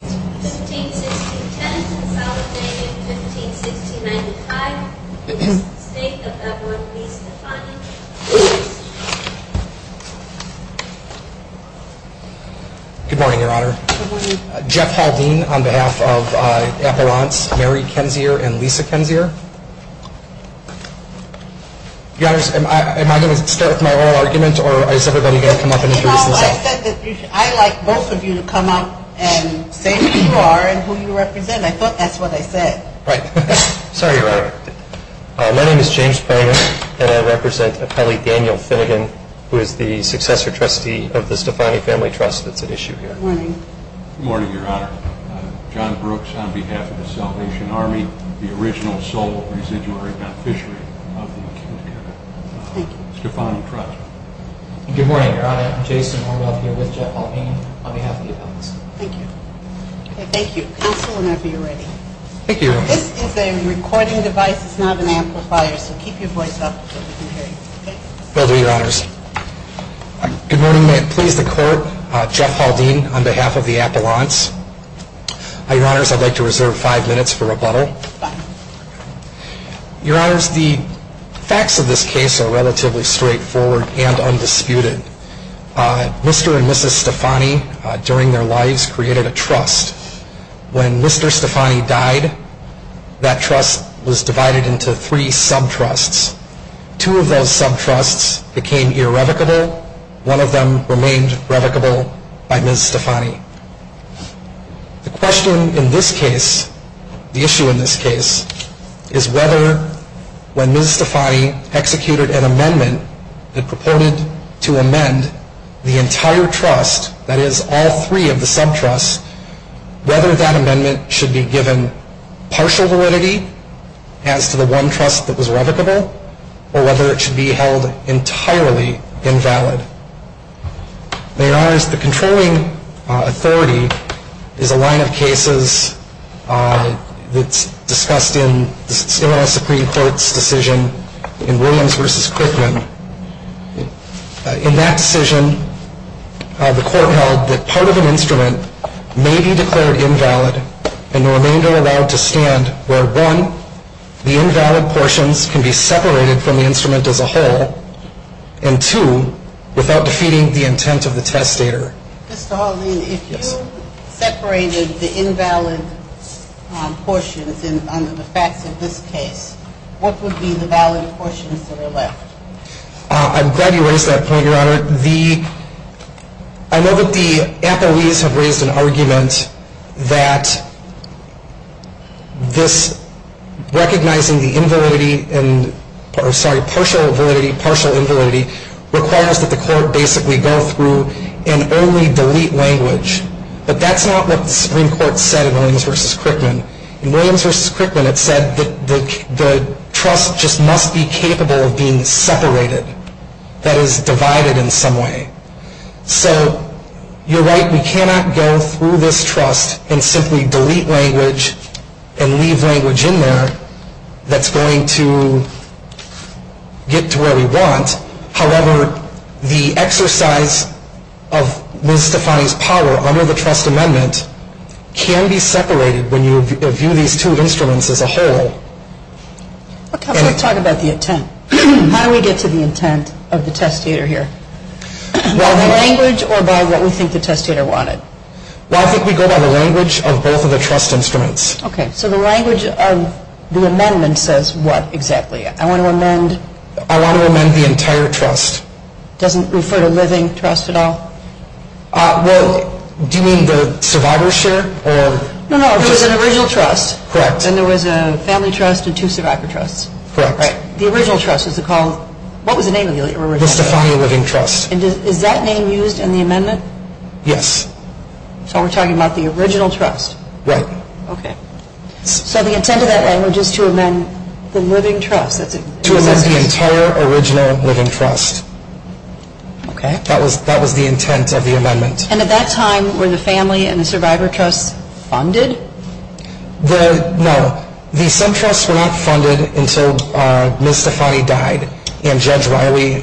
Good morning, Your Honor. Jeff Haldine on behalf of Appelrant's Mary Kensier and Lisa Kensier. Your Honor, am I going to start with my oral argument, or is everybody going to come up and introduce themselves? You know, I said that I'd like both of you to come up and say who you are and who you represent. I thought that's what I said. Right. Sorry, Your Honor. My name is James Pranger, and I represent Appellee Daniel Finnegan, who is the successor trustee of the Stefani Family Trust that's at issue here. Good morning. Good morning, Your Honor. John Brooks on behalf of the Salvation Army, the original sole residuary of Appellee Daniel Finnegan. Good morning, Your Honor. Jason Orwell here with Jeff Haldine on behalf of the Appellant's. Thank you. Counsel, whenever you're ready. This is a recording device, it's not an amplifier, so keep your voice up so we can hear you. Will do, Your Honors. Good morning. May it please the Court, Jeff Haldine on behalf of the Appellant's. Your Honors, I'd like to reserve five minutes for rebuttal. Your Honors, the facts of this case are relatively straightforward and undisputed. Mr. and Mrs. Stefani, during their lives, created a trust. When Mr. Stefani died, that trust was divided into three sub-trusts. Two of those sub-trusts became irrevocable. One of them remained revocable by Ms. Stefani. The question in this case, the issue in this case, is whether when Ms. Stefani executed an amendment that proposed to amend the entire trust, that is all three of the sub-trusts, whether that amendment should be given partial validity as to the one trust that was revocable, or whether it should be held entirely invalid. Now, Your Honors, the controlling authority is a line of cases that's discussed in the Senate Supreme Court's decision in Williams v. Quickman. In that decision, the Court held that part of an instrument may be declared invalid and the remainder allowed to stand where, one, the invalid portions can be separated from the instrument as a whole, and two, without defeating the intent of the testator. Mr. Haldane, if you separated the invalid portions under the facts of this case, what would be the valid portions that are left? I'm glad you raised that point, Your Honor. I know that the appellees have raised an argument that recognizing the partial validity requires that the Court basically go through and only delete language, but that's not what the Supreme Court said in Williams v. Quickman. In Williams v. Quickman, it said that the So, you're right, we cannot go through this trust and simply delete language and leave language in there that's going to get to where we want. However, the exercise of Ms. Stefani's power under the trust amendment can be separated when you view these two instruments as a whole. Let's talk about the intent. How do we get to the intent of the testator here? By the language or by what we think the testator wanted? Well, I think we go by the language of both of the trust instruments. Okay, so the language of the amendment says what exactly? I want to amend the entire trust. It doesn't refer to living trust at all? Well, do you mean the survivor's share? No, no, there was an original trust. Correct. Then there was a family trust and two survivor trusts. Correct. The original trust was called, what was the name of the original trust? Ms. Stefani Living Trust. And is that name used in the amendment? Yes. So we're talking about the original trust? Right. Okay. So the intent of that language is to amend the living trust. To amend the entire original living trust. Okay. That was the intent of the amendment. And at that time were the family and the survivor trusts funded? No. The SEM trusts were not funded until Ms. Stefani died. And Judge Riley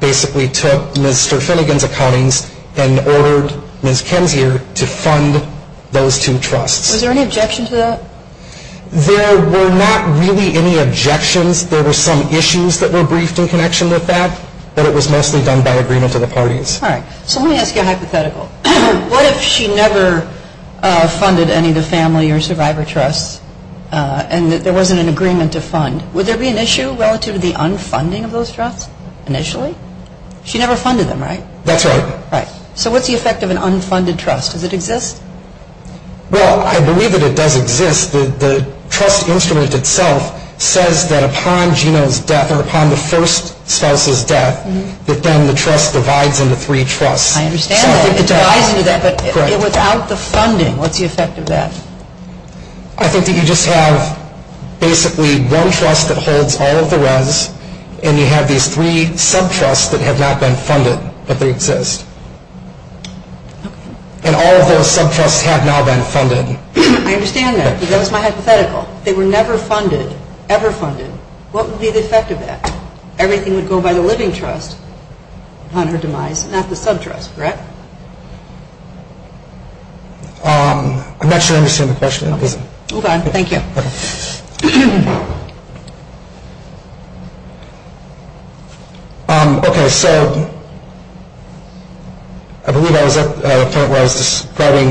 basically took Ms. Sterfinigan's accountings and ordered Ms. Kinzier to fund those two trusts. Was there any objection to that? There were not really any objections. There were some issues that were briefed in connection with that, but it was mostly done by agreement of the parties. All right. So let me ask you a hypothetical. What if she never funded any of the family or survivor trusts and there wasn't an agreement to fund, would there be an issue relative to the unfunding of those trusts initially? She never funded them, right? That's right. Right. So what's the effect of an unfunded trust? Does it exist? Well, I believe that it does exist. The trust instrument itself says that upon Geno's death or upon the first spouse's death, that then the trust divides into three trusts. I understand that. It divides into that, but without the funding, what's the effect of that? I think that you just have basically one trust that holds all of the res, and you have these three sub-trusts that have not been funded, but they exist. Okay. And all of those sub-trusts have now been funded. I understand that, but that was my hypothetical. They were never funded, ever funded. What would be the effect of that? Everything would go by the living trust upon her demise, not the sub-trust, correct? I'm not sure I understand the question. Move on. Thank you. Okay. So I believe I was at the point where I was describing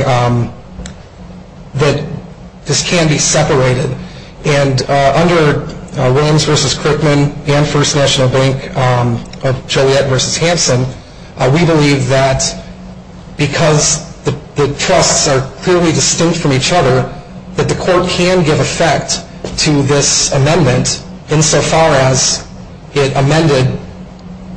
that this can be separated, and under Williams v. Crickman and First National Bank of Joliet v. Hansen, we believe that because the trusts are clearly distinct from each other, insofar as it amended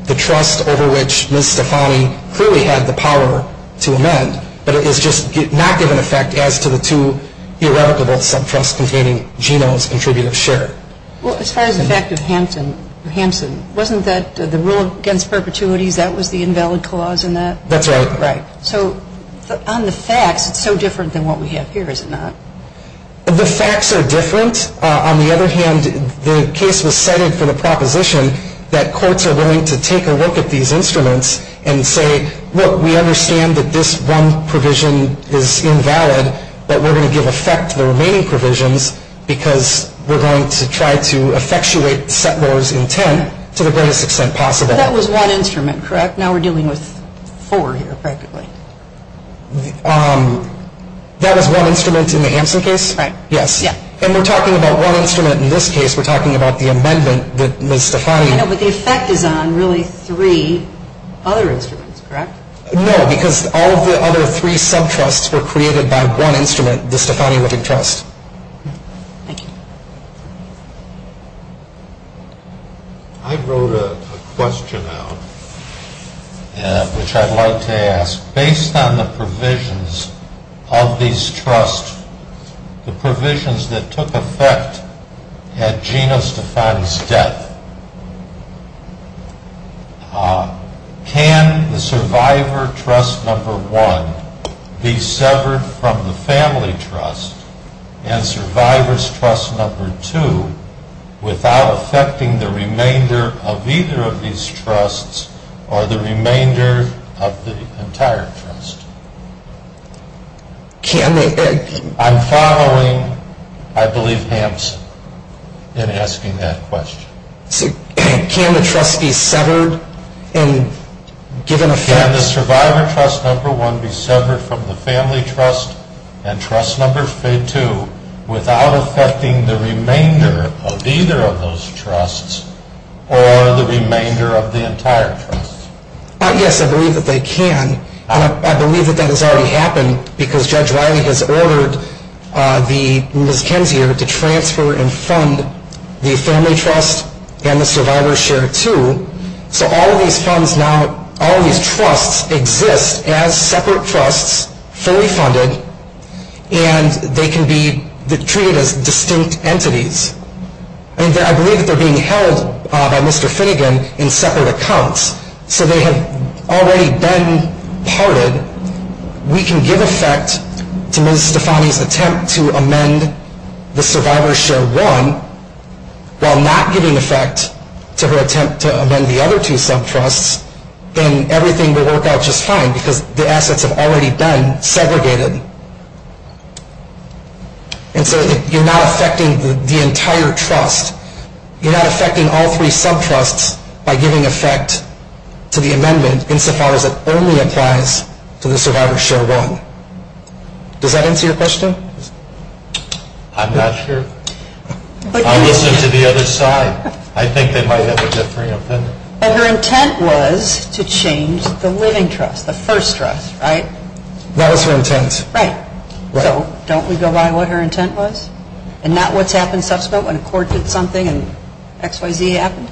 the trust over which Ms. Stefani clearly had the power to amend, but it is just not given effect as to the two irrevocable sub-trusts containing Geno's contributive share. Well, as far as the fact of Hansen, wasn't that the rule against perpetuities, that was the invalid clause in that? That's right. So on the facts, it's so different than what we have here, is it not? The facts are different. On the other hand, the case was cited for the proposition that courts are willing to take a look at these instruments and say, look, we understand that this one provision is invalid, but we're going to give effect to the remaining provisions, because we're going to try to effectuate those intent to the greatest extent possible. That was one instrument, correct? Now we're dealing with four here, practically. That was one instrument in the Hansen case? Yes. And we're talking about one instrument in this case, we're talking about the amendment that Ms. Stefani... I know, but the effect is on really three other instruments, correct? No, because all of the other three sub-trusts were created by one instrument, the Stefani Wittig Trust. Thank you. I wrote a question out, which I'd like to ask. Based on the provisions of these trusts, the provisions that took effect at Gina Stefani's death, can the survivor trust number one be severed from the family trust, and survivor's trust number two, without effecting the remainder of either of these trusts, or the remainder of the entire trust? I'm following, I believe, Hansen in asking that question. Can the trust be severed? Can the survivor trust number one be severed from the family trust, and trust number two, without effecting the remainder of either of those trusts, or the remainder of the entire trust? Yes, I believe that they can. And I believe that that has already happened, because Judge Riley has ordered Ms. Kensier to transfer and fund the family trust, and the survivor's share, too. So all of these trusts exist as separate trusts, fully funded, and they can be treated as distinct entities. And I believe that they're being held by Mr. Finnegan in separate accounts, so they have already been parted. We can give effect to Ms. Stefani's attempt to amend the survivor's share one, while not giving effect to her attempt to amend the other two subtrusts, and everything will work out just fine, because the assets have already been segregated. And so you're not effecting the entire trust. You're not effecting all three subtrusts by giving effect to the amendment, insofar as it only applies to the survivor's share one. Does that answer your question? I'm not sure. I listened to the other side. I think they might have a different opinion. But her intent was to change the living trust, the first trust, right? That was her intent. Right. So don't we go by what her intent was, and not what's happened subsequent, when a court did something and XYZ happened?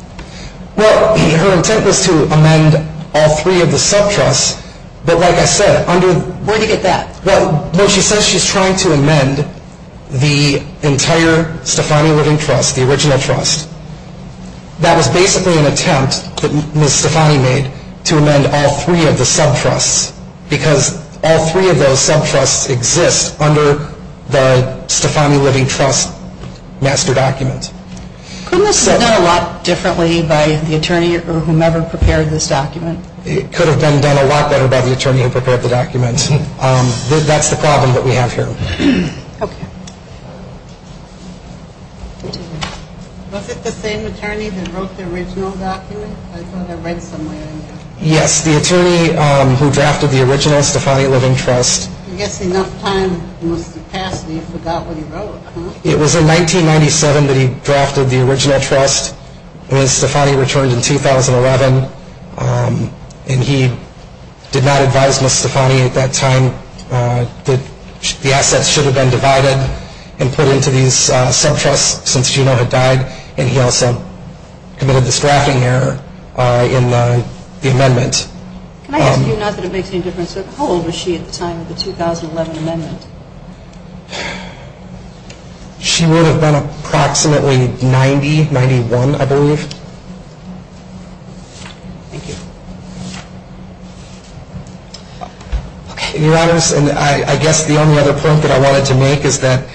Well, her intent was to amend all three of the subtrusts, but like I said, under the Where'd you get that? Well, when she says she's trying to amend the entire Stefani Living Trust, the original trust, that was basically an attempt that Ms. Stefani made to amend all three of the subtrusts, because all three of those subtrusts exist under the Stefani Living Trust master document. Couldn't this have been done a lot differently by the attorney or whomever prepared this document? It could have been done a lot better by the attorney who prepared the document. That's the problem that we have here. Was it the same attorney that wrote the original document? I thought I read somewhere in here. Yes, the attorney who drafted the original Stefani Living Trust. I guess enough time must have passed that you forgot what he wrote. It was in 1997 that he drafted the original trust. Stefani returned in 2011, and he did not advise Ms. Stefani at that time that the assets should have been divided and put into these subtrusts since Gino had died, and he also committed this drafting error in the amendment. Can I ask you not that it makes any difference? How old was she at the time of the 2011 amendment? She would have been approximately 90, 91, I believe. Thank you. Your Honors, I guess the only other point that I wanted to make is that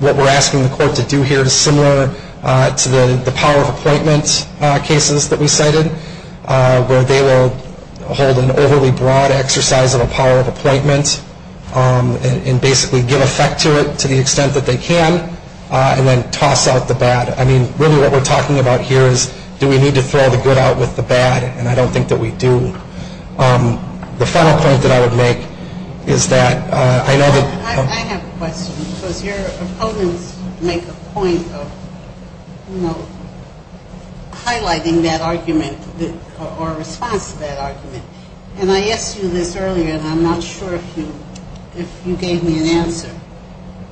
what we're asking the court to do here is similar to the power of appointment cases that we cited, where they will hold an overly broad exercise of a power of appointment and basically give effect to it to the extent that they can and then toss out the bad. I mean, really what we're talking about here is do we need to throw the good out with the bad, and I don't think that we do. The final point that I would make is that I know that I have a question because your opponents make a point of, you know, highlighting that argument or response to that argument, and I asked you this earlier, and I'm not sure if you gave me an answer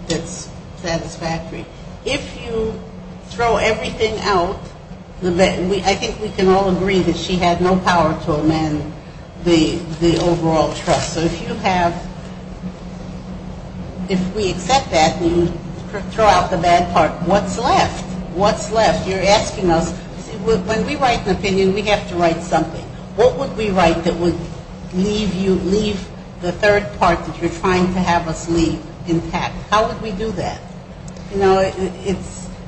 that's satisfactory. If you throw everything out, I think we can all agree that she had no power to amend the overall trust. So if you have, if we accept that and you throw out the bad part, what's left? You're asking us, when we write an opinion, we have to write something. What would we write that would leave the third part that you're trying to have us leave intact? How would we do that? You know,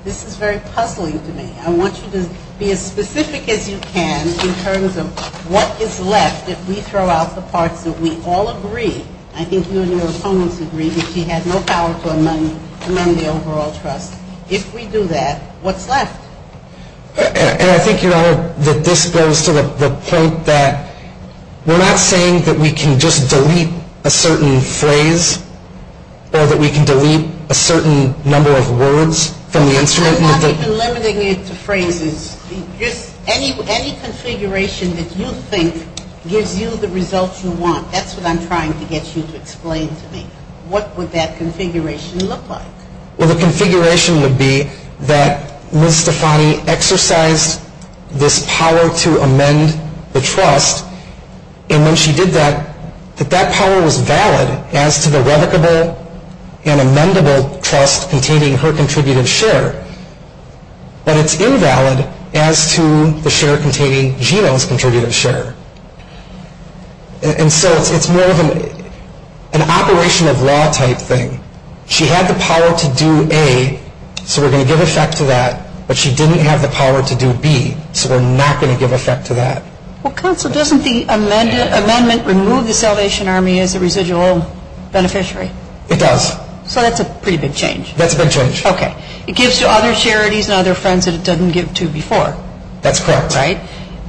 this is very puzzling to me. I want you to be as specific as you can in terms of what is left if we throw out the parts that we all agree, I think you and your opponents agree, that she had no power to amend the overall trust. If we do that, what's left? And I think, Your Honor, that this goes to the point that we're not saying that we can just delete a certain phrase or that we can delete a certain number of words from the instrument. I'm not even limiting it to phrases. Any configuration that you think gives you the results you want, that's what I'm trying to get you to explain to me. What would that configuration look like? Well, the configuration would be that Ms. Stefani exercised this power to amend the trust, and when she did that, that that power was valid as to the revocable and amendable trust containing her contributive share. But it's invalid as to the share containing Gino's contributive share. And so it's more of an operation of law type thing. She had the power to do A, so we're going to give effect to that, but she didn't have the power to do B, so we're not going to give effect to that. Well, Counsel, doesn't the amendment remove the Salvation Army as a residual beneficiary? It does. So that's a pretty big change. That's a big change. Okay. It gives to other charities and other friends that it doesn't give to before. That's correct. Right?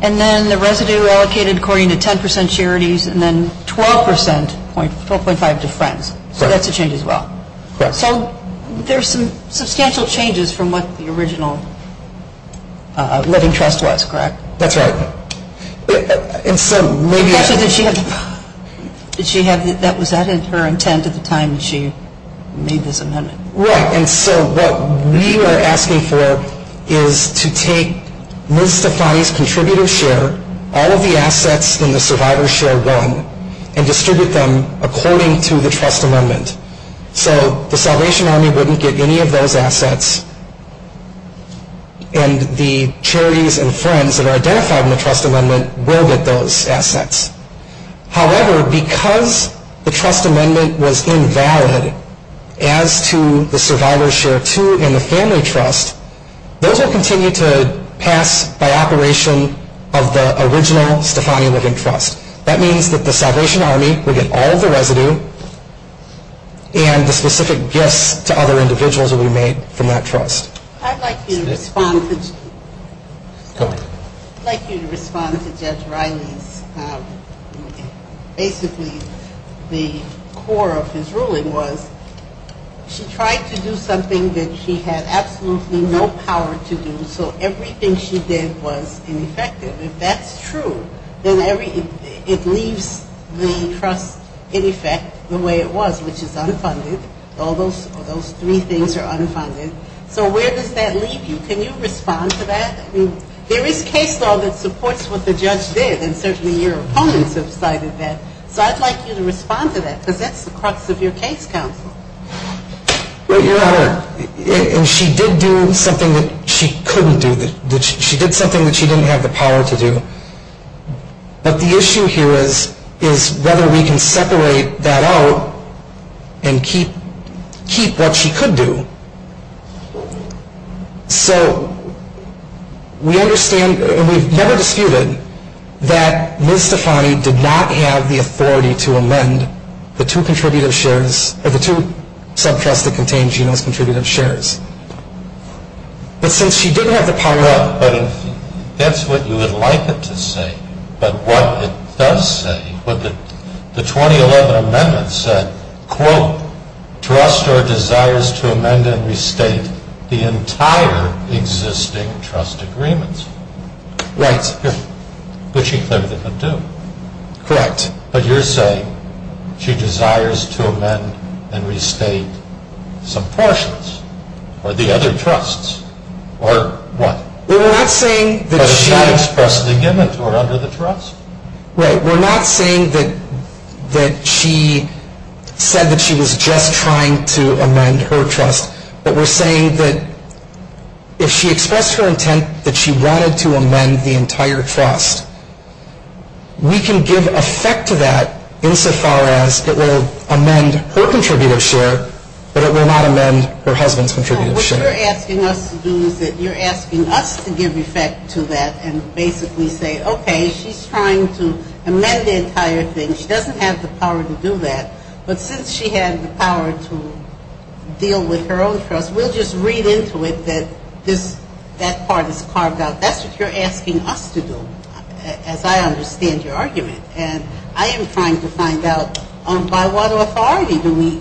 And then the residue allocated according to 10 percent charities and then 12 percent, 12.5 to friends. So that's a change as well. Correct. So there's some substantial changes from what the original living trust was, correct? That's right. And so maybe it's... Did she have, that was her intent at the time that she made this amendment? Right. And so what we are asking for is to take Ms. Stefani's contributive share, all of the assets in the survivor's share one, and distribute them according to the trust amendment. So the Salvation Army wouldn't get any of those assets, and the charities and friends that are identified in the trust amendment will get those assets. However, because the trust amendment was invalid as to the survivor's share two and the family trust, those will continue to pass by operation of the original Stefani Living Trust. That means that the Salvation Army will get all of the residue and the specific gifts to other individuals will be made from that trust. I'd like you to respond to... Go ahead. I'd like you to respond to Judge Riley's, basically the core of his ruling was, she tried to do something that she had absolutely no power to do, so everything she did was ineffective. If that's true, then it leaves the trust in effect the way it was, which is unfunded. All those three things are unfunded. So where does that leave you? Can you respond to that? There is case law that supports what the judge did, and certainly your opponents have cited that. So I'd like you to respond to that, because that's the crux of your case, counsel. Your Honor, and she did do something that she couldn't do. She did something that she didn't have the power to do. But the issue here is whether we can separate that out and keep what she could do. So we understand, and we've never disputed, that Ms. Stefani did not have the authority to amend the two contributive shares, or the two sub-trusts that contain Genome's contributive shares. But since she didn't have the power... But if that's what you would like it to say, but what it does say, the 2011 amendment said, quote, trust or desires to amend and restate the entire existing trust agreements. Right. Which she clearly couldn't do. Correct. But you're saying she desires to amend and restate some portions, or the other trusts, or what? We're not saying that she... But it's not expressly given to her under the trust. Right. We're not saying that she said that she was just trying to amend her trust, but we're saying that if she expressed her intent that she wanted to amend the entire trust, we can give effect to that insofar as it will amend her contributive share, but it will not amend her husband's contributive share. What you're asking us to do is that you're asking us to give effect to that and basically say, okay, she's trying to amend the entire thing. She doesn't have the power to do that. But since she had the power to deal with her own trust, we'll just read into it that that part is carved out. That's what you're asking us to do, as I understand your argument. And I am trying to find out by what authority do we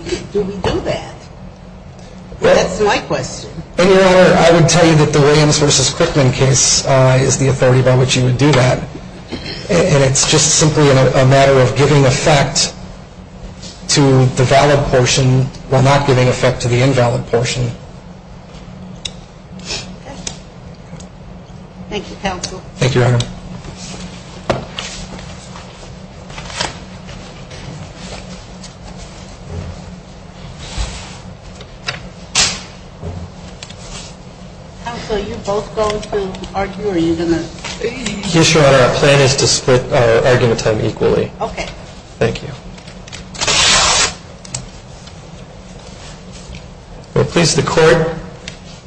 do that. That's my question. Your Honor, I would tell you that the Williams v. Quickman case is the authority by which you would do that. And it's just simply a matter of giving effect to the valid portion while not giving effect to the invalid portion. Thank you, counsel. Thank you, Your Honor. Counsel, are you both going to argue or are you going to? Yes, Your Honor. Our plan is to split our argument time equally. Okay. Thank you.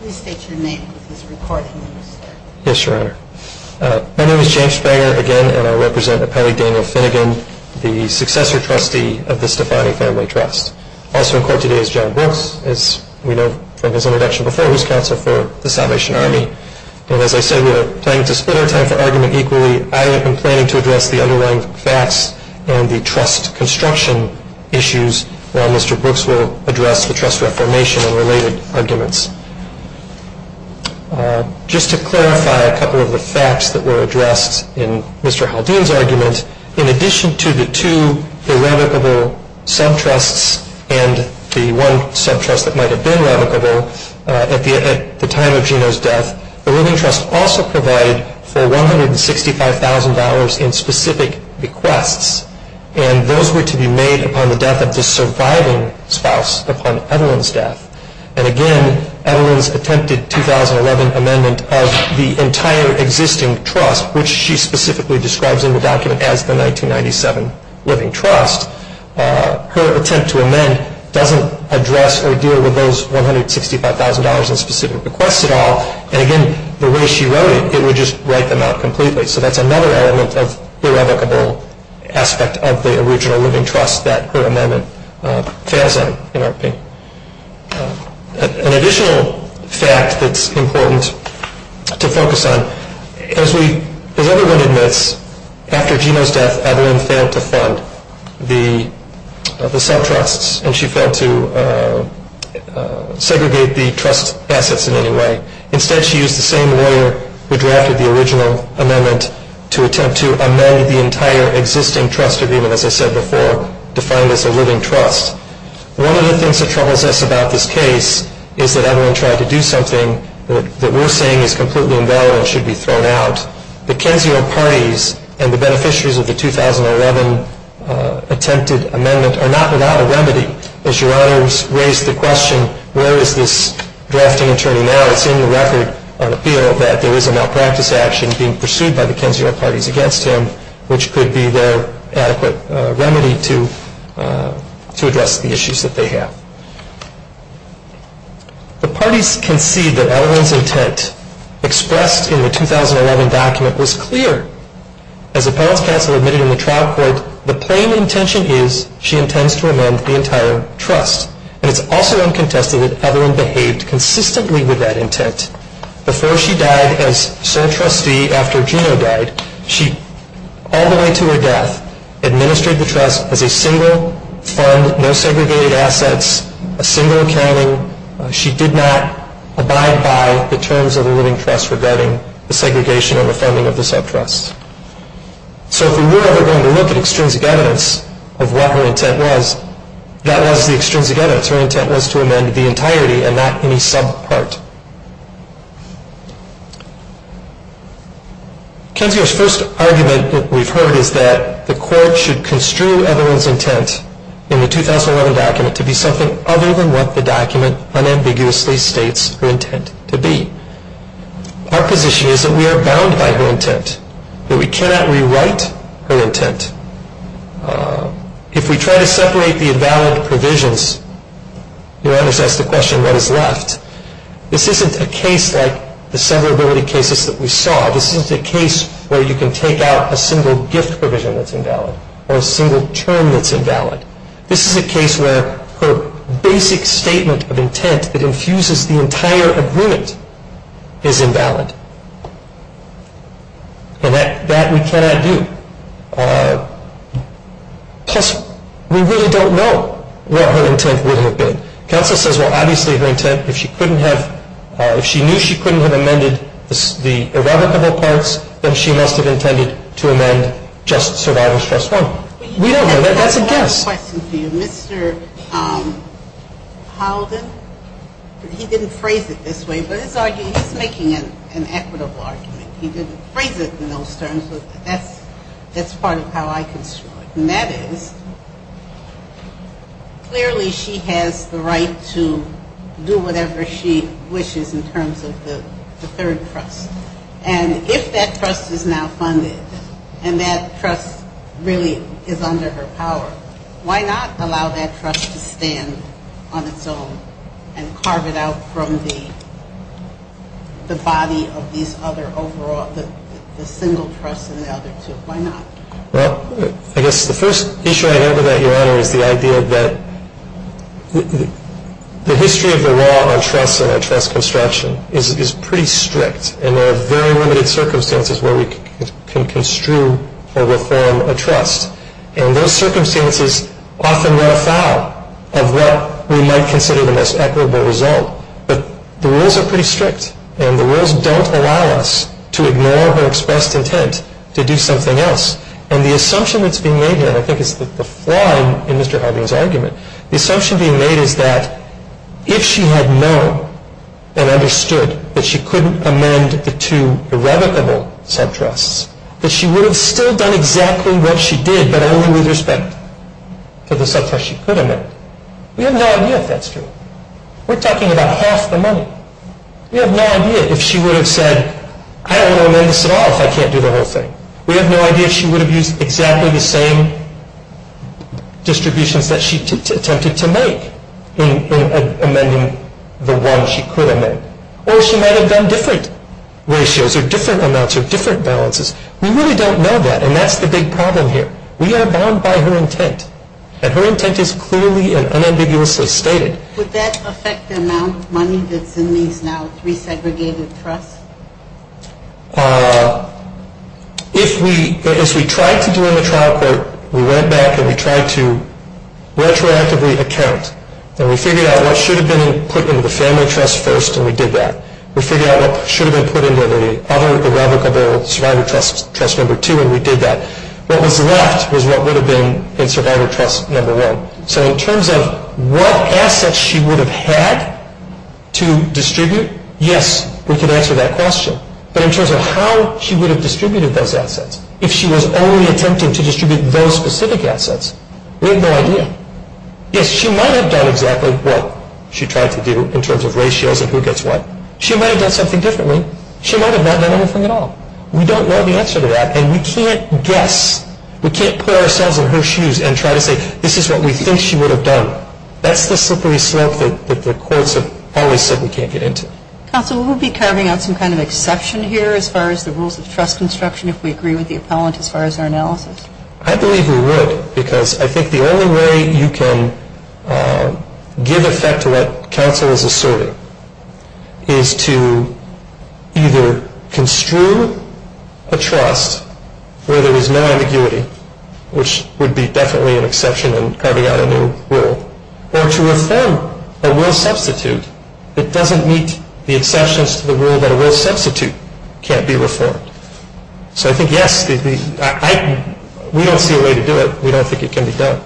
Please state your name if this recording is used. Yes, Your Honor. My name is James Springer, again, and I represent Appellee Daniel Finnegan, the successor trustee of the Stefani Family Trust. Also in court today is John Brooks, as we know from his introduction before, who's counsel for the Salvation Army. And as I said, we're planning to split our time for argument equally. I am planning to address the underlying facts and the trust construction issues while Mr. Brooks will address the trust reformation and related arguments. Just to clarify a couple of the facts that were addressed in Mr. Haldane's argument, in addition to the two irrevocable sub-trusts and the one sub-trust that might have been revocable at the time of Geno's death, the Living Trust also provided for $165,000 in specific requests, and those were to be made upon the death of the surviving spouse upon Evelyn's death. And, again, Evelyn's attempted 2011 amendment of the entire existing trust, which she specifically describes in the document as the 1997 Living Trust, her attempt to amend doesn't address or deal with those $165,000 in specific requests at all. And, again, the way she wrote it, it would just write them out completely. So that's another element of irrevocable aspect of the original Living Trust that her amendment fails on, in our opinion. An additional fact that's important to focus on, as everyone admits, after Geno's death, Evelyn failed to fund the sub-trusts, and she failed to segregate the trust assets in any way. Instead, she used the same lawyer who drafted the original amendment to attempt to amend the entire existing trust agreement, as I said before, defined as a Living Trust. One of the things that troubles us about this case is that Evelyn tried to do something that we're saying is completely invaluable and should be thrown out. The Kenzeo parties and the beneficiaries of the 2011 attempted amendment are not without a remedy. As Your Honors raised the question, where is this drafting attorney now, it's in your record of appeal that there is a malpractice action being pursued by the Kenzeo parties against him, which could be their adequate remedy to address the issues that they have. The parties concede that Evelyn's intent expressed in the 2011 document was clear. As Appellants Counsel admitted in the trial court, the plain intention is she intends to amend the entire trust, and it's also uncontested that Evelyn behaved consistently with that intent. Before she died as sole trustee after Gino died, she, all the way to her death, administered the trust as a single fund, no segregated assets, a single accounting. She did not abide by the terms of the Living Trust regarding the segregation and the funding of the subtrust. So if we were ever going to look at extrinsic evidence of what her intent was, that was the extrinsic evidence. We can see that her intent was to amend the entirety and not any sub-part. Kenzeo's first argument that we've heard is that the court should construe Evelyn's intent in the 2011 document to be something other than what the document unambiguously states her intent to be. Our position is that we are bound by her intent, that we cannot rewrite her intent. If we try to separate the invalid provisions, you might ask the question, what is left? This isn't a case like the severability cases that we saw. This isn't a case where you can take out a single gift provision that's invalid or a single term that's invalid. This is a case where her basic statement of intent that infuses the entire agreement is invalid, and that we cannot do. Plus, we really don't know what her intent would have been. Kenzeo says, well, obviously her intent, if she knew she couldn't have amended the irrevocable parts, then she must have intended to amend just Survivor's Trust 1. We don't know. That's a guess. I have one question for you. Mr. Howden, he didn't phrase it this way, but he's making an equitable argument. He didn't phrase it in those terms, but that's part of how I construe it. And that is, clearly she has the right to do whatever she wishes in terms of the third trust. And if that trust is now funded and that trust really is under her power, why not allow that trust to stand on its own and carve it out from the body of these other overall, the single trust and the other two? Why not? Well, I guess the first issue I have with that, Your Honor, is the idea that the history of the law on trust and on trust construction is pretty strict, and there are very limited circumstances where we can construe or reform a trust. And those circumstances often run afoul of what we might consider the most equitable result. But the rules are pretty strict, and the rules don't allow us to ignore her expressed intent to do something else. And the assumption that's being made here, and I think it's the flaw in Mr. Howden's argument, the assumption being made is that if she had known and understood that she couldn't amend the two irrevocable sub-trusts, that she would have still done exactly what she did, but only with respect to the sub-trust she could amend. We have no idea if that's true. We're talking about half the money. We have no idea if she would have said, I don't want to amend this at all if I can't do the whole thing. We have no idea if she would have used exactly the same distributions that she attempted to make in amending the one she could amend. Or she might have done different ratios or different amounts or different balances. We really don't know that, and that's the big problem here. We are bound by her intent, and her intent is clearly and unambiguously stated. Would that affect the amount of money that's in these now, three segregated trusts? If we, as we tried to do in the trial court, we went back and we tried to retroactively account, and we figured out what should have been put into the family trust first, and we did that. We figured out what should have been put into the other irrevocable survivor trust number two, and we did that. What was left was what would have been in survivor trust number one. So in terms of what assets she would have had to distribute, yes, we can answer that question. But in terms of how she would have distributed those assets, if she was only attempting to distribute those specific assets, we have no idea. Yes, she might have done exactly what she tried to do in terms of ratios and who gets what. She might have done something differently. She might have not done anything at all. We don't know the answer to that, and we can't guess. We can't pull ourselves in her shoes and try to say, this is what we think she would have done. That's the slippery slope that the courts have always said we can't get into. Counsel, would we be carving out some kind of exception here as far as the rules of trust construction if we agree with the appellant as far as our analysis? I believe we would, because I think the only way you can give effect to what counsel is asserting is to either construe a trust where there is no ambiguity, which would be definitely an exception in carving out a new rule, or to affirm a rule substitute that doesn't meet the exceptions to the rule that a rule substitute can't be reformed. So I think, yes, we don't see a way to do it. We don't think it can be done.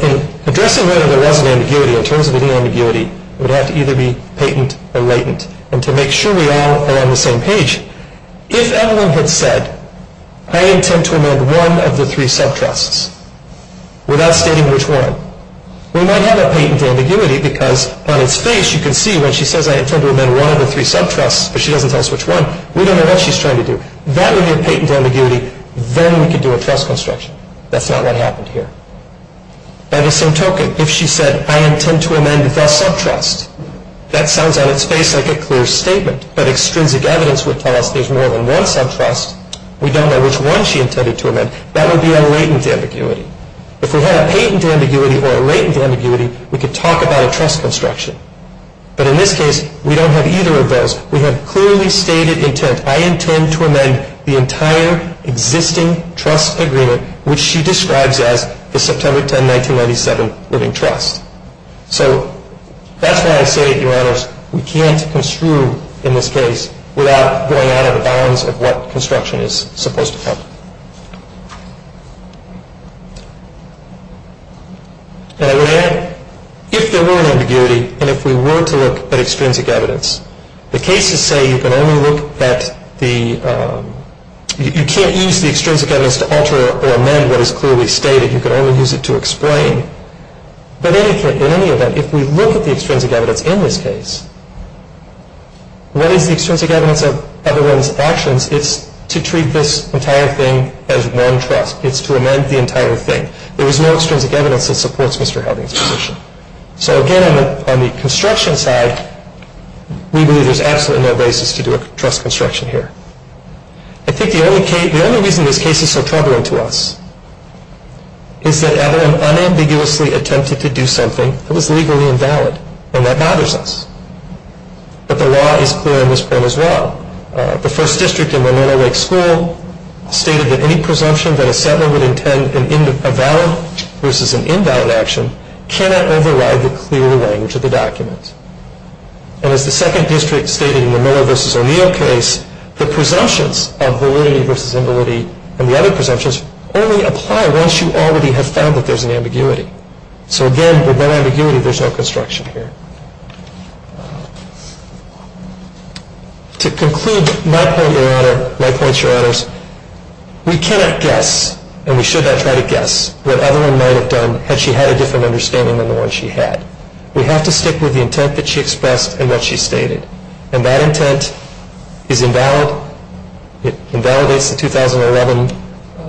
In addressing whether there was an ambiguity in terms of any ambiguity, it would have to either be patent or latent. And to make sure we all are on the same page, if Evelyn had said, I intend to amend one of the three subtrusts without stating which one, we might have a patent ambiguity because on its face you can see when she says, I intend to amend one of the three subtrusts, but she doesn't tell us which one, we don't know what she's trying to do. That would be a patent ambiguity. Then we could do a trust construction. That's not what happened here. By the same token, if she said, I intend to amend the subtrust, that sounds on its face like a clear statement, but extrinsic evidence would tell us there's more than one subtrust. We don't know which one she intended to amend. That would be a latent ambiguity. If we had a patent ambiguity or a latent ambiguity, we could talk about a trust construction. But in this case, we don't have either of those. We have clearly stated intent. I intend to amend the entire existing trust agreement, which she describes as the September 10, 1997 Living Trust. So that's why I say, Your Honors, we can't construe in this case without going out of the bounds of what construction is supposed to cover. And I would add, if there were an ambiguity and if we were to look at extrinsic evidence, the cases say you can only look at the, you can't use the extrinsic evidence to alter or amend what is clearly stated. You can only use it to explain. But in any event, if we look at the extrinsic evidence in this case, what is the extrinsic evidence of Evelyn's actions, it's to treat this entire thing as one trust. It's to amend the entire thing. There is no extrinsic evidence that supports Mr. Helding's position. So again, on the construction side, we believe there's absolutely no basis to do a trust construction here. I think the only reason this case is so troubling to us is that Evelyn unambiguously attempted to do something that was legally invalid, and that bothers us. But the law is clear on this point as well. The first district in the Miller Lake School stated that any presumption that a settler would intend a valid versus an invalid action cannot override the clear language of the document. And as the second district stated in the Miller versus O'Neill case, the presumptions of validity versus invalidity and the other presumptions only apply once you already have found that there's an ambiguity. So again, with no ambiguity, there's no construction here. To conclude my point, Your Honor, my points, Your Honors, we cannot guess, and we should not try to guess, what Evelyn might have done had she had a different understanding than the one she had. We have to stick with the intent that she expressed and what she stated. And that intent is invalid. It invalidates the 2011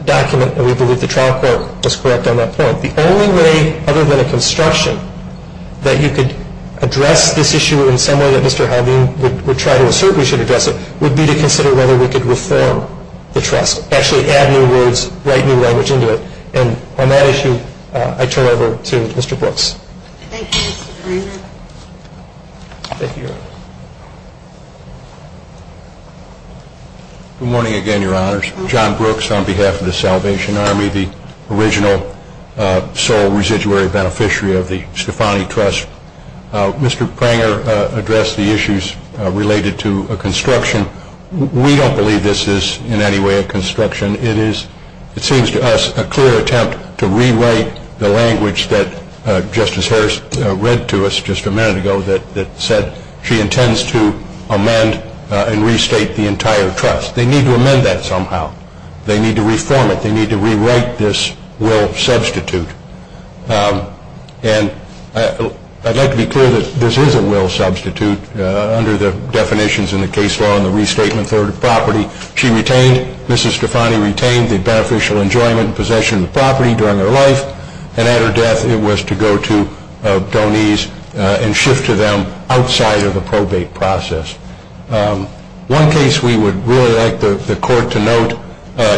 document, and we believe the trial court was correct on that point. The only way, other than a construction, that you could address this issue in some way that Mr. Haldane would try to assert we should address it would be to consider whether we could reform the trust, actually add new words, write new language into it. And on that issue, I turn it over to Mr. Brooks. Thank you, Mr. Greenberg. Thank you, Your Honor. Good morning again, Your Honors. John Brooks on behalf of the Salvation Army, the original sole residuary beneficiary of the Stefani Trust. Mr. Pranger addressed the issues related to a construction. We don't believe this is in any way a construction. It seems to us a clear attempt to rewrite the language that Justice Harris read to us just a minute ago that said she intends to amend and restate the entire trust. They need to amend that somehow. They need to reform it. They need to rewrite this will substitute. And I'd like to be clear that this is a will substitute under the definitions in the case law and the restatement third property. She retained, Mrs. Stefani retained the beneficial enjoyment and possession of the property during her life. And at her death, it was to go to Doniz and shift to them outside of the probate process. One case we would really like the court to note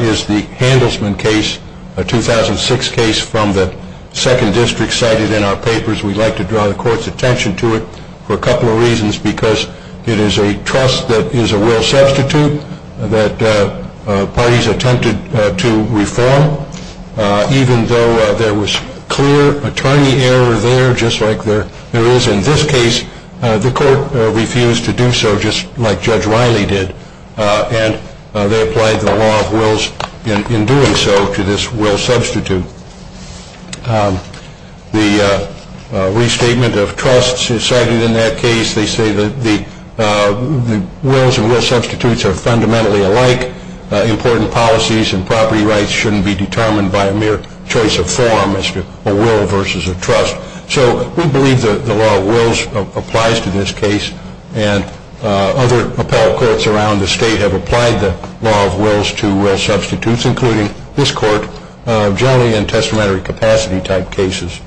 is the Handelsman case, a 2006 case from the second district cited in our papers. We'd like to draw the court's attention to it for a couple of reasons because it is a trust that is a will substitute that parties attempted to reform. Even though there was clear attorney error there, just like there is in this case, the court refused to do so, just like Judge Riley did. And they applied the law of wills in doing so to this will substitute. The restatement of trusts is cited in that case. They say that the wills and will substitutes are fundamentally alike. Important policies and property rights shouldn't be determined by a mere choice of form as to a will versus a trust. So we believe the law of wills applies to this case. And other appellate courts around the state have applied the law of wills to will substitutes, including this court, generally in testamentary capacity type cases.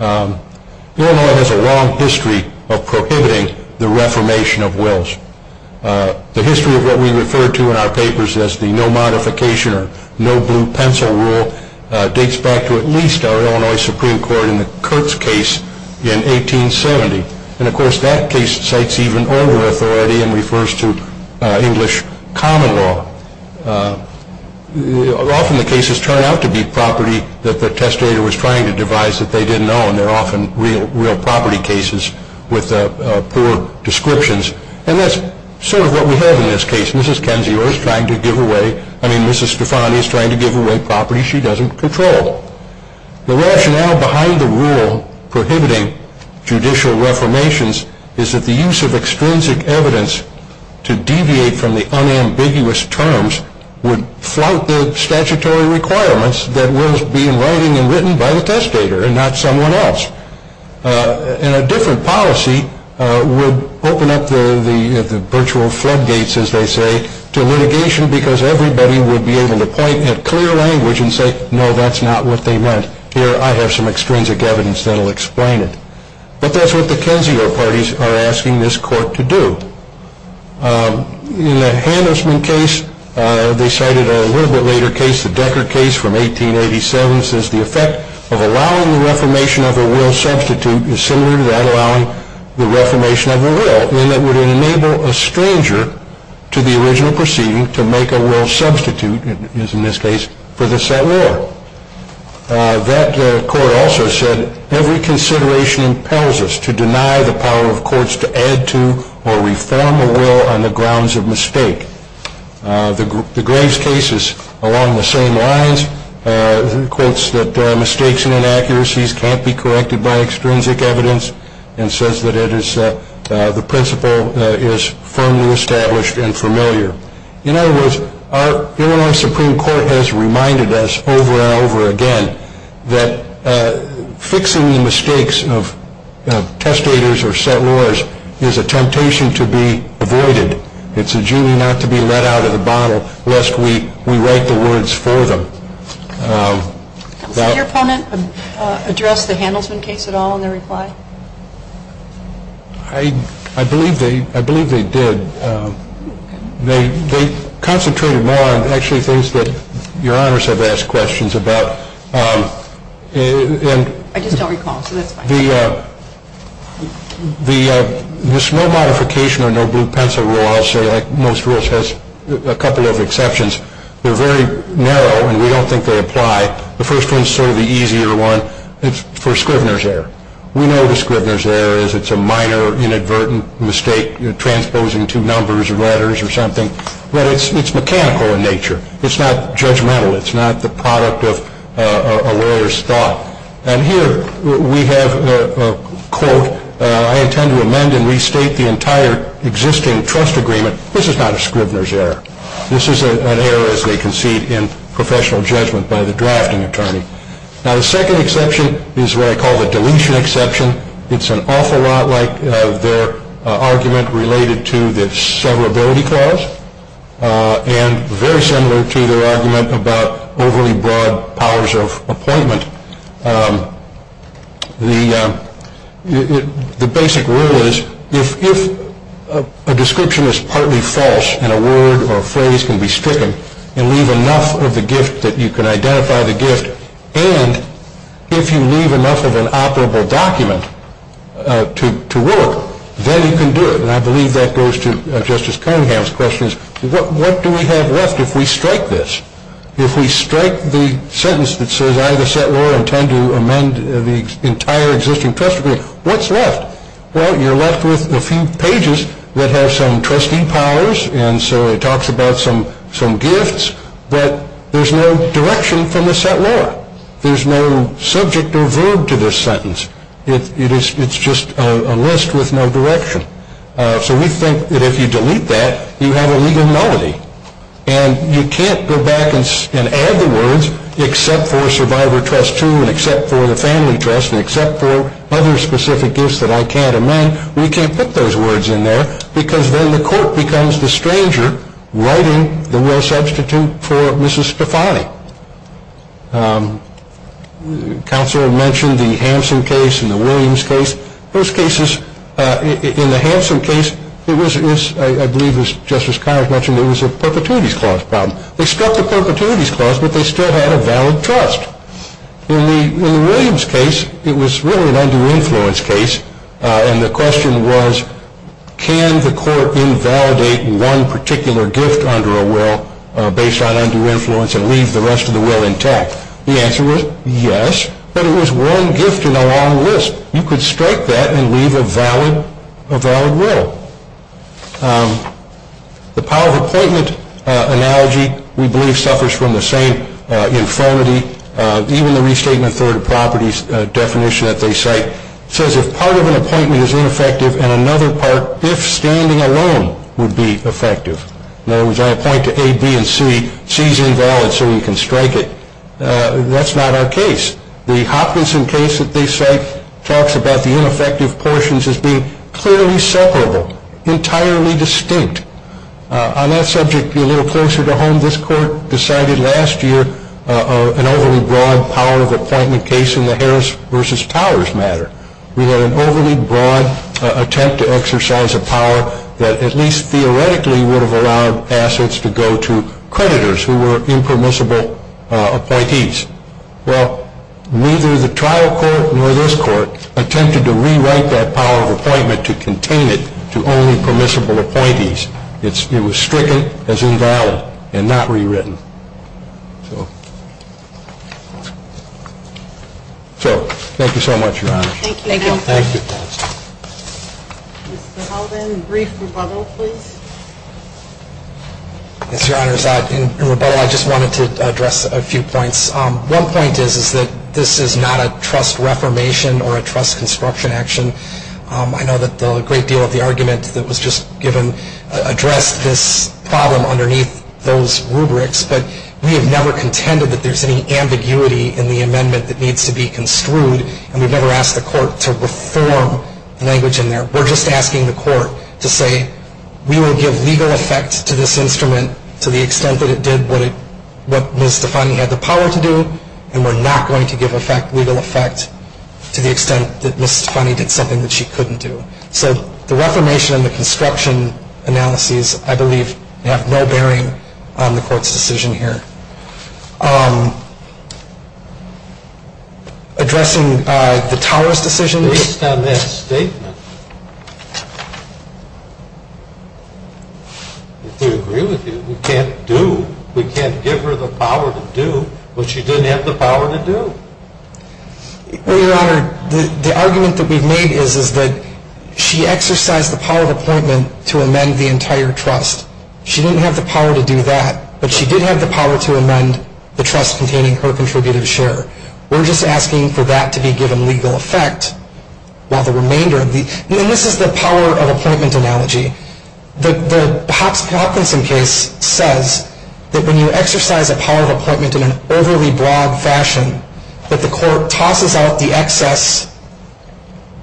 Illinois has a long history of prohibiting the reformation of wills. The history of what we refer to in our papers as the no modification or no blue pencil rule dates back to at least our Illinois Supreme Court in the Kurtz case in 1870. And, of course, that case cites even older authority and refers to English common law. Often the cases turn out to be property that the testator was trying to devise that they didn't know, and they're often real property cases with poor descriptions. And that's sort of what we have in this case. Mrs. Stefani is trying to give away property she doesn't control. The rationale behind the rule prohibiting judicial reformations is that the use of extrinsic evidence to deviate from the unambiguous terms would flout the statutory requirements that wills be in writing and written by the testator and not someone else. And a different policy would open up the virtual floodgates, as they say, to litigation because everybody would be able to point at clear language and say, no, that's not what they meant. Here, I have some extrinsic evidence that will explain it. But that's what the Kensio parties are asking this court to do. In the Hannisman case, they cited a little bit later case, the Decker case from 1887, since the effect of allowing the reformation of a will substitute is similar to that allowing the reformation of a will, and that would enable a stranger to the original proceeding to make a will substitute, as in this case, for the set law. That court also said, every consideration impels us to deny the power of courts to add to or reform a will on the grounds of mistake. The Graves case is along the same lines. It quotes that mistakes and inaccuracies can't be corrected by extrinsic evidence and says that the principle is firmly established and familiar. In other words, our Illinois Supreme Court has reminded us over and over again that fixing the mistakes of testators or set laws is a temptation to be avoided. It's a jury not to be let out of the bottle lest we write the words for them. Did your opponent address the Hannisman case at all in their reply? I believe they did. They concentrated more on actually things that your honors have asked questions about. I just don't recall, so that's fine. There's no modification or no blue pencil rule, I'll say, like most rules, has a couple of exceptions. They're very narrow, and we don't think they apply. The first one's sort of the easier one. It's for Scrivener's error. We know the Scrivener's error is it's a minor inadvertent mistake, transposing two numbers or letters or something. But it's mechanical in nature. It's not judgmental. It's not the product of a lawyer's thought. And here we have a quote. I intend to amend and restate the entire existing trust agreement. This is not a Scrivener's error. This is an error, as they concede, in professional judgment by the drafting attorney. Now, the second exception is what I call the deletion exception. It's an awful lot like their argument related to the severability clause and very similar to their argument about overly broad powers of appointment. The basic rule is if a description is partly false and a word or a phrase can be stricken and leave enough of the gift that you can identify the gift, and if you leave enough of an operable document to work, then you can do it. And I believe that goes to Justice Cunningham's question is what do we have left if we strike this? If we strike the sentence that says I, the set lawyer, intend to amend the entire existing trust agreement, what's left? Well, you're left with a few pages that have some trustee powers, and so it talks about some gifts, but there's no direction from the set lawyer. There's no subject or verb to this sentence. It's just a list with no direction. So we think that if you delete that, you have a legal nullity. And you can't go back and add the words except for survivor trust two and except for the family trust and except for other specific gifts that I can't amend. We can't put those words in there because then the court becomes the stranger writing the real substitute for Mrs. Stefani. Counselor mentioned the Hansen case and the Williams case. Those cases, in the Hansen case, it was, I believe, as Justice Connors mentioned, it was a perpetuities clause problem. They struck the perpetuities clause, but they still had a valid trust. In the Williams case, it was really an under-influence case, and the question was can the court invalidate one particular gift under a will based on under-influence and leave the rest of the will intact? The answer was yes, but it was one gift in a long list. You could strike that and leave a valid will. The power of appointment analogy, we believe, suffers from the same infirmity. Even the restatement third property definition that they cite says if part of an appointment is ineffective and another part, if standing alone, would be effective. In other words, I appoint to A, B, and C. C is invalid, so you can strike it. That's not our case. The Hopkinson case that they cite talks about the ineffective portions as being clearly separable, entirely distinct. On that subject, a little closer to home, this court decided last year an overly broad power of appointment case in the Harris v. Powers matter. We had an overly broad attempt to exercise a power that at least theoretically would have allowed assets to go to creditors who were impermissible appointees. Well, neither the trial court nor this court attempted to rewrite that power of appointment to contain it to only permissible appointees. It was stricken as invalid and not rewritten. So, thank you so much, Your Honor. Thank you. Thank you. Yes, Your Honors. In rebuttal, I just wanted to address a few points. One point is that this is not a trust reformation or a trust construction action. I know that a great deal of the argument that was just given addressed this problem underneath those rubrics, but we have never contended that there's any ambiguity in the amendment that needs to be construed, and we've never asked the court to reform the language in there. We're just asking the court to say, we will give legal effect to this instrument to the extent that it did what Ms. Stefani had the power to do, and we're not going to give effect, legal effect, to the extent that Ms. Stefani did something that she couldn't do. So, the reformation and the construction analyses, I believe, have no bearing on the court's decision here. Addressing the Towers decision. Based on that statement, if we agree with you, we can't do, we can't give her the power to do what she didn't have the power to do. Well, Your Honor, the argument that we've made is that she exercised the power of appointment to amend the entire trust. She didn't have the power to do that, but she did have the power to amend the trust containing her contributed share. We're just asking for that to be given legal effect while the remainder of the, and this is the power of appointment analogy. The Hopkinson case says that when you exercise a power of appointment in an overly broad fashion, that the court tosses out the excess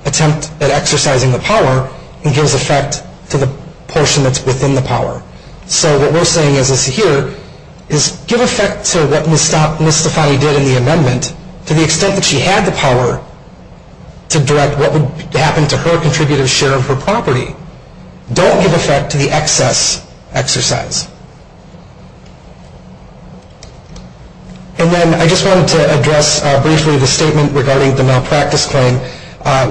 attempt at exercising the power and gives effect to the portion that's within the power. So, what we're saying is this here, is give effect to what Ms. Stefani did in the amendment, to the extent that she had the power to direct what would happen to her contributed share of her property. Don't give effect to the excess exercise. And then I just wanted to address briefly the statement regarding the malpractice claim.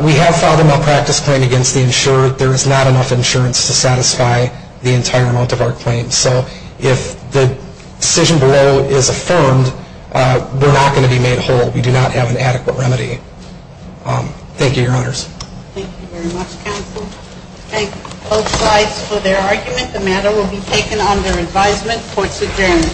We have filed a malpractice claim against the insurer. There is not enough insurance to satisfy the entire amount of our claims. So, if the decision below is affirmed, we're not going to be made whole. We do not have an adequate remedy. Thank you, Your Honors. Thank you very much, counsel. Thank both sides for their argument. The matter will be taken under advisement. Court's adjourned.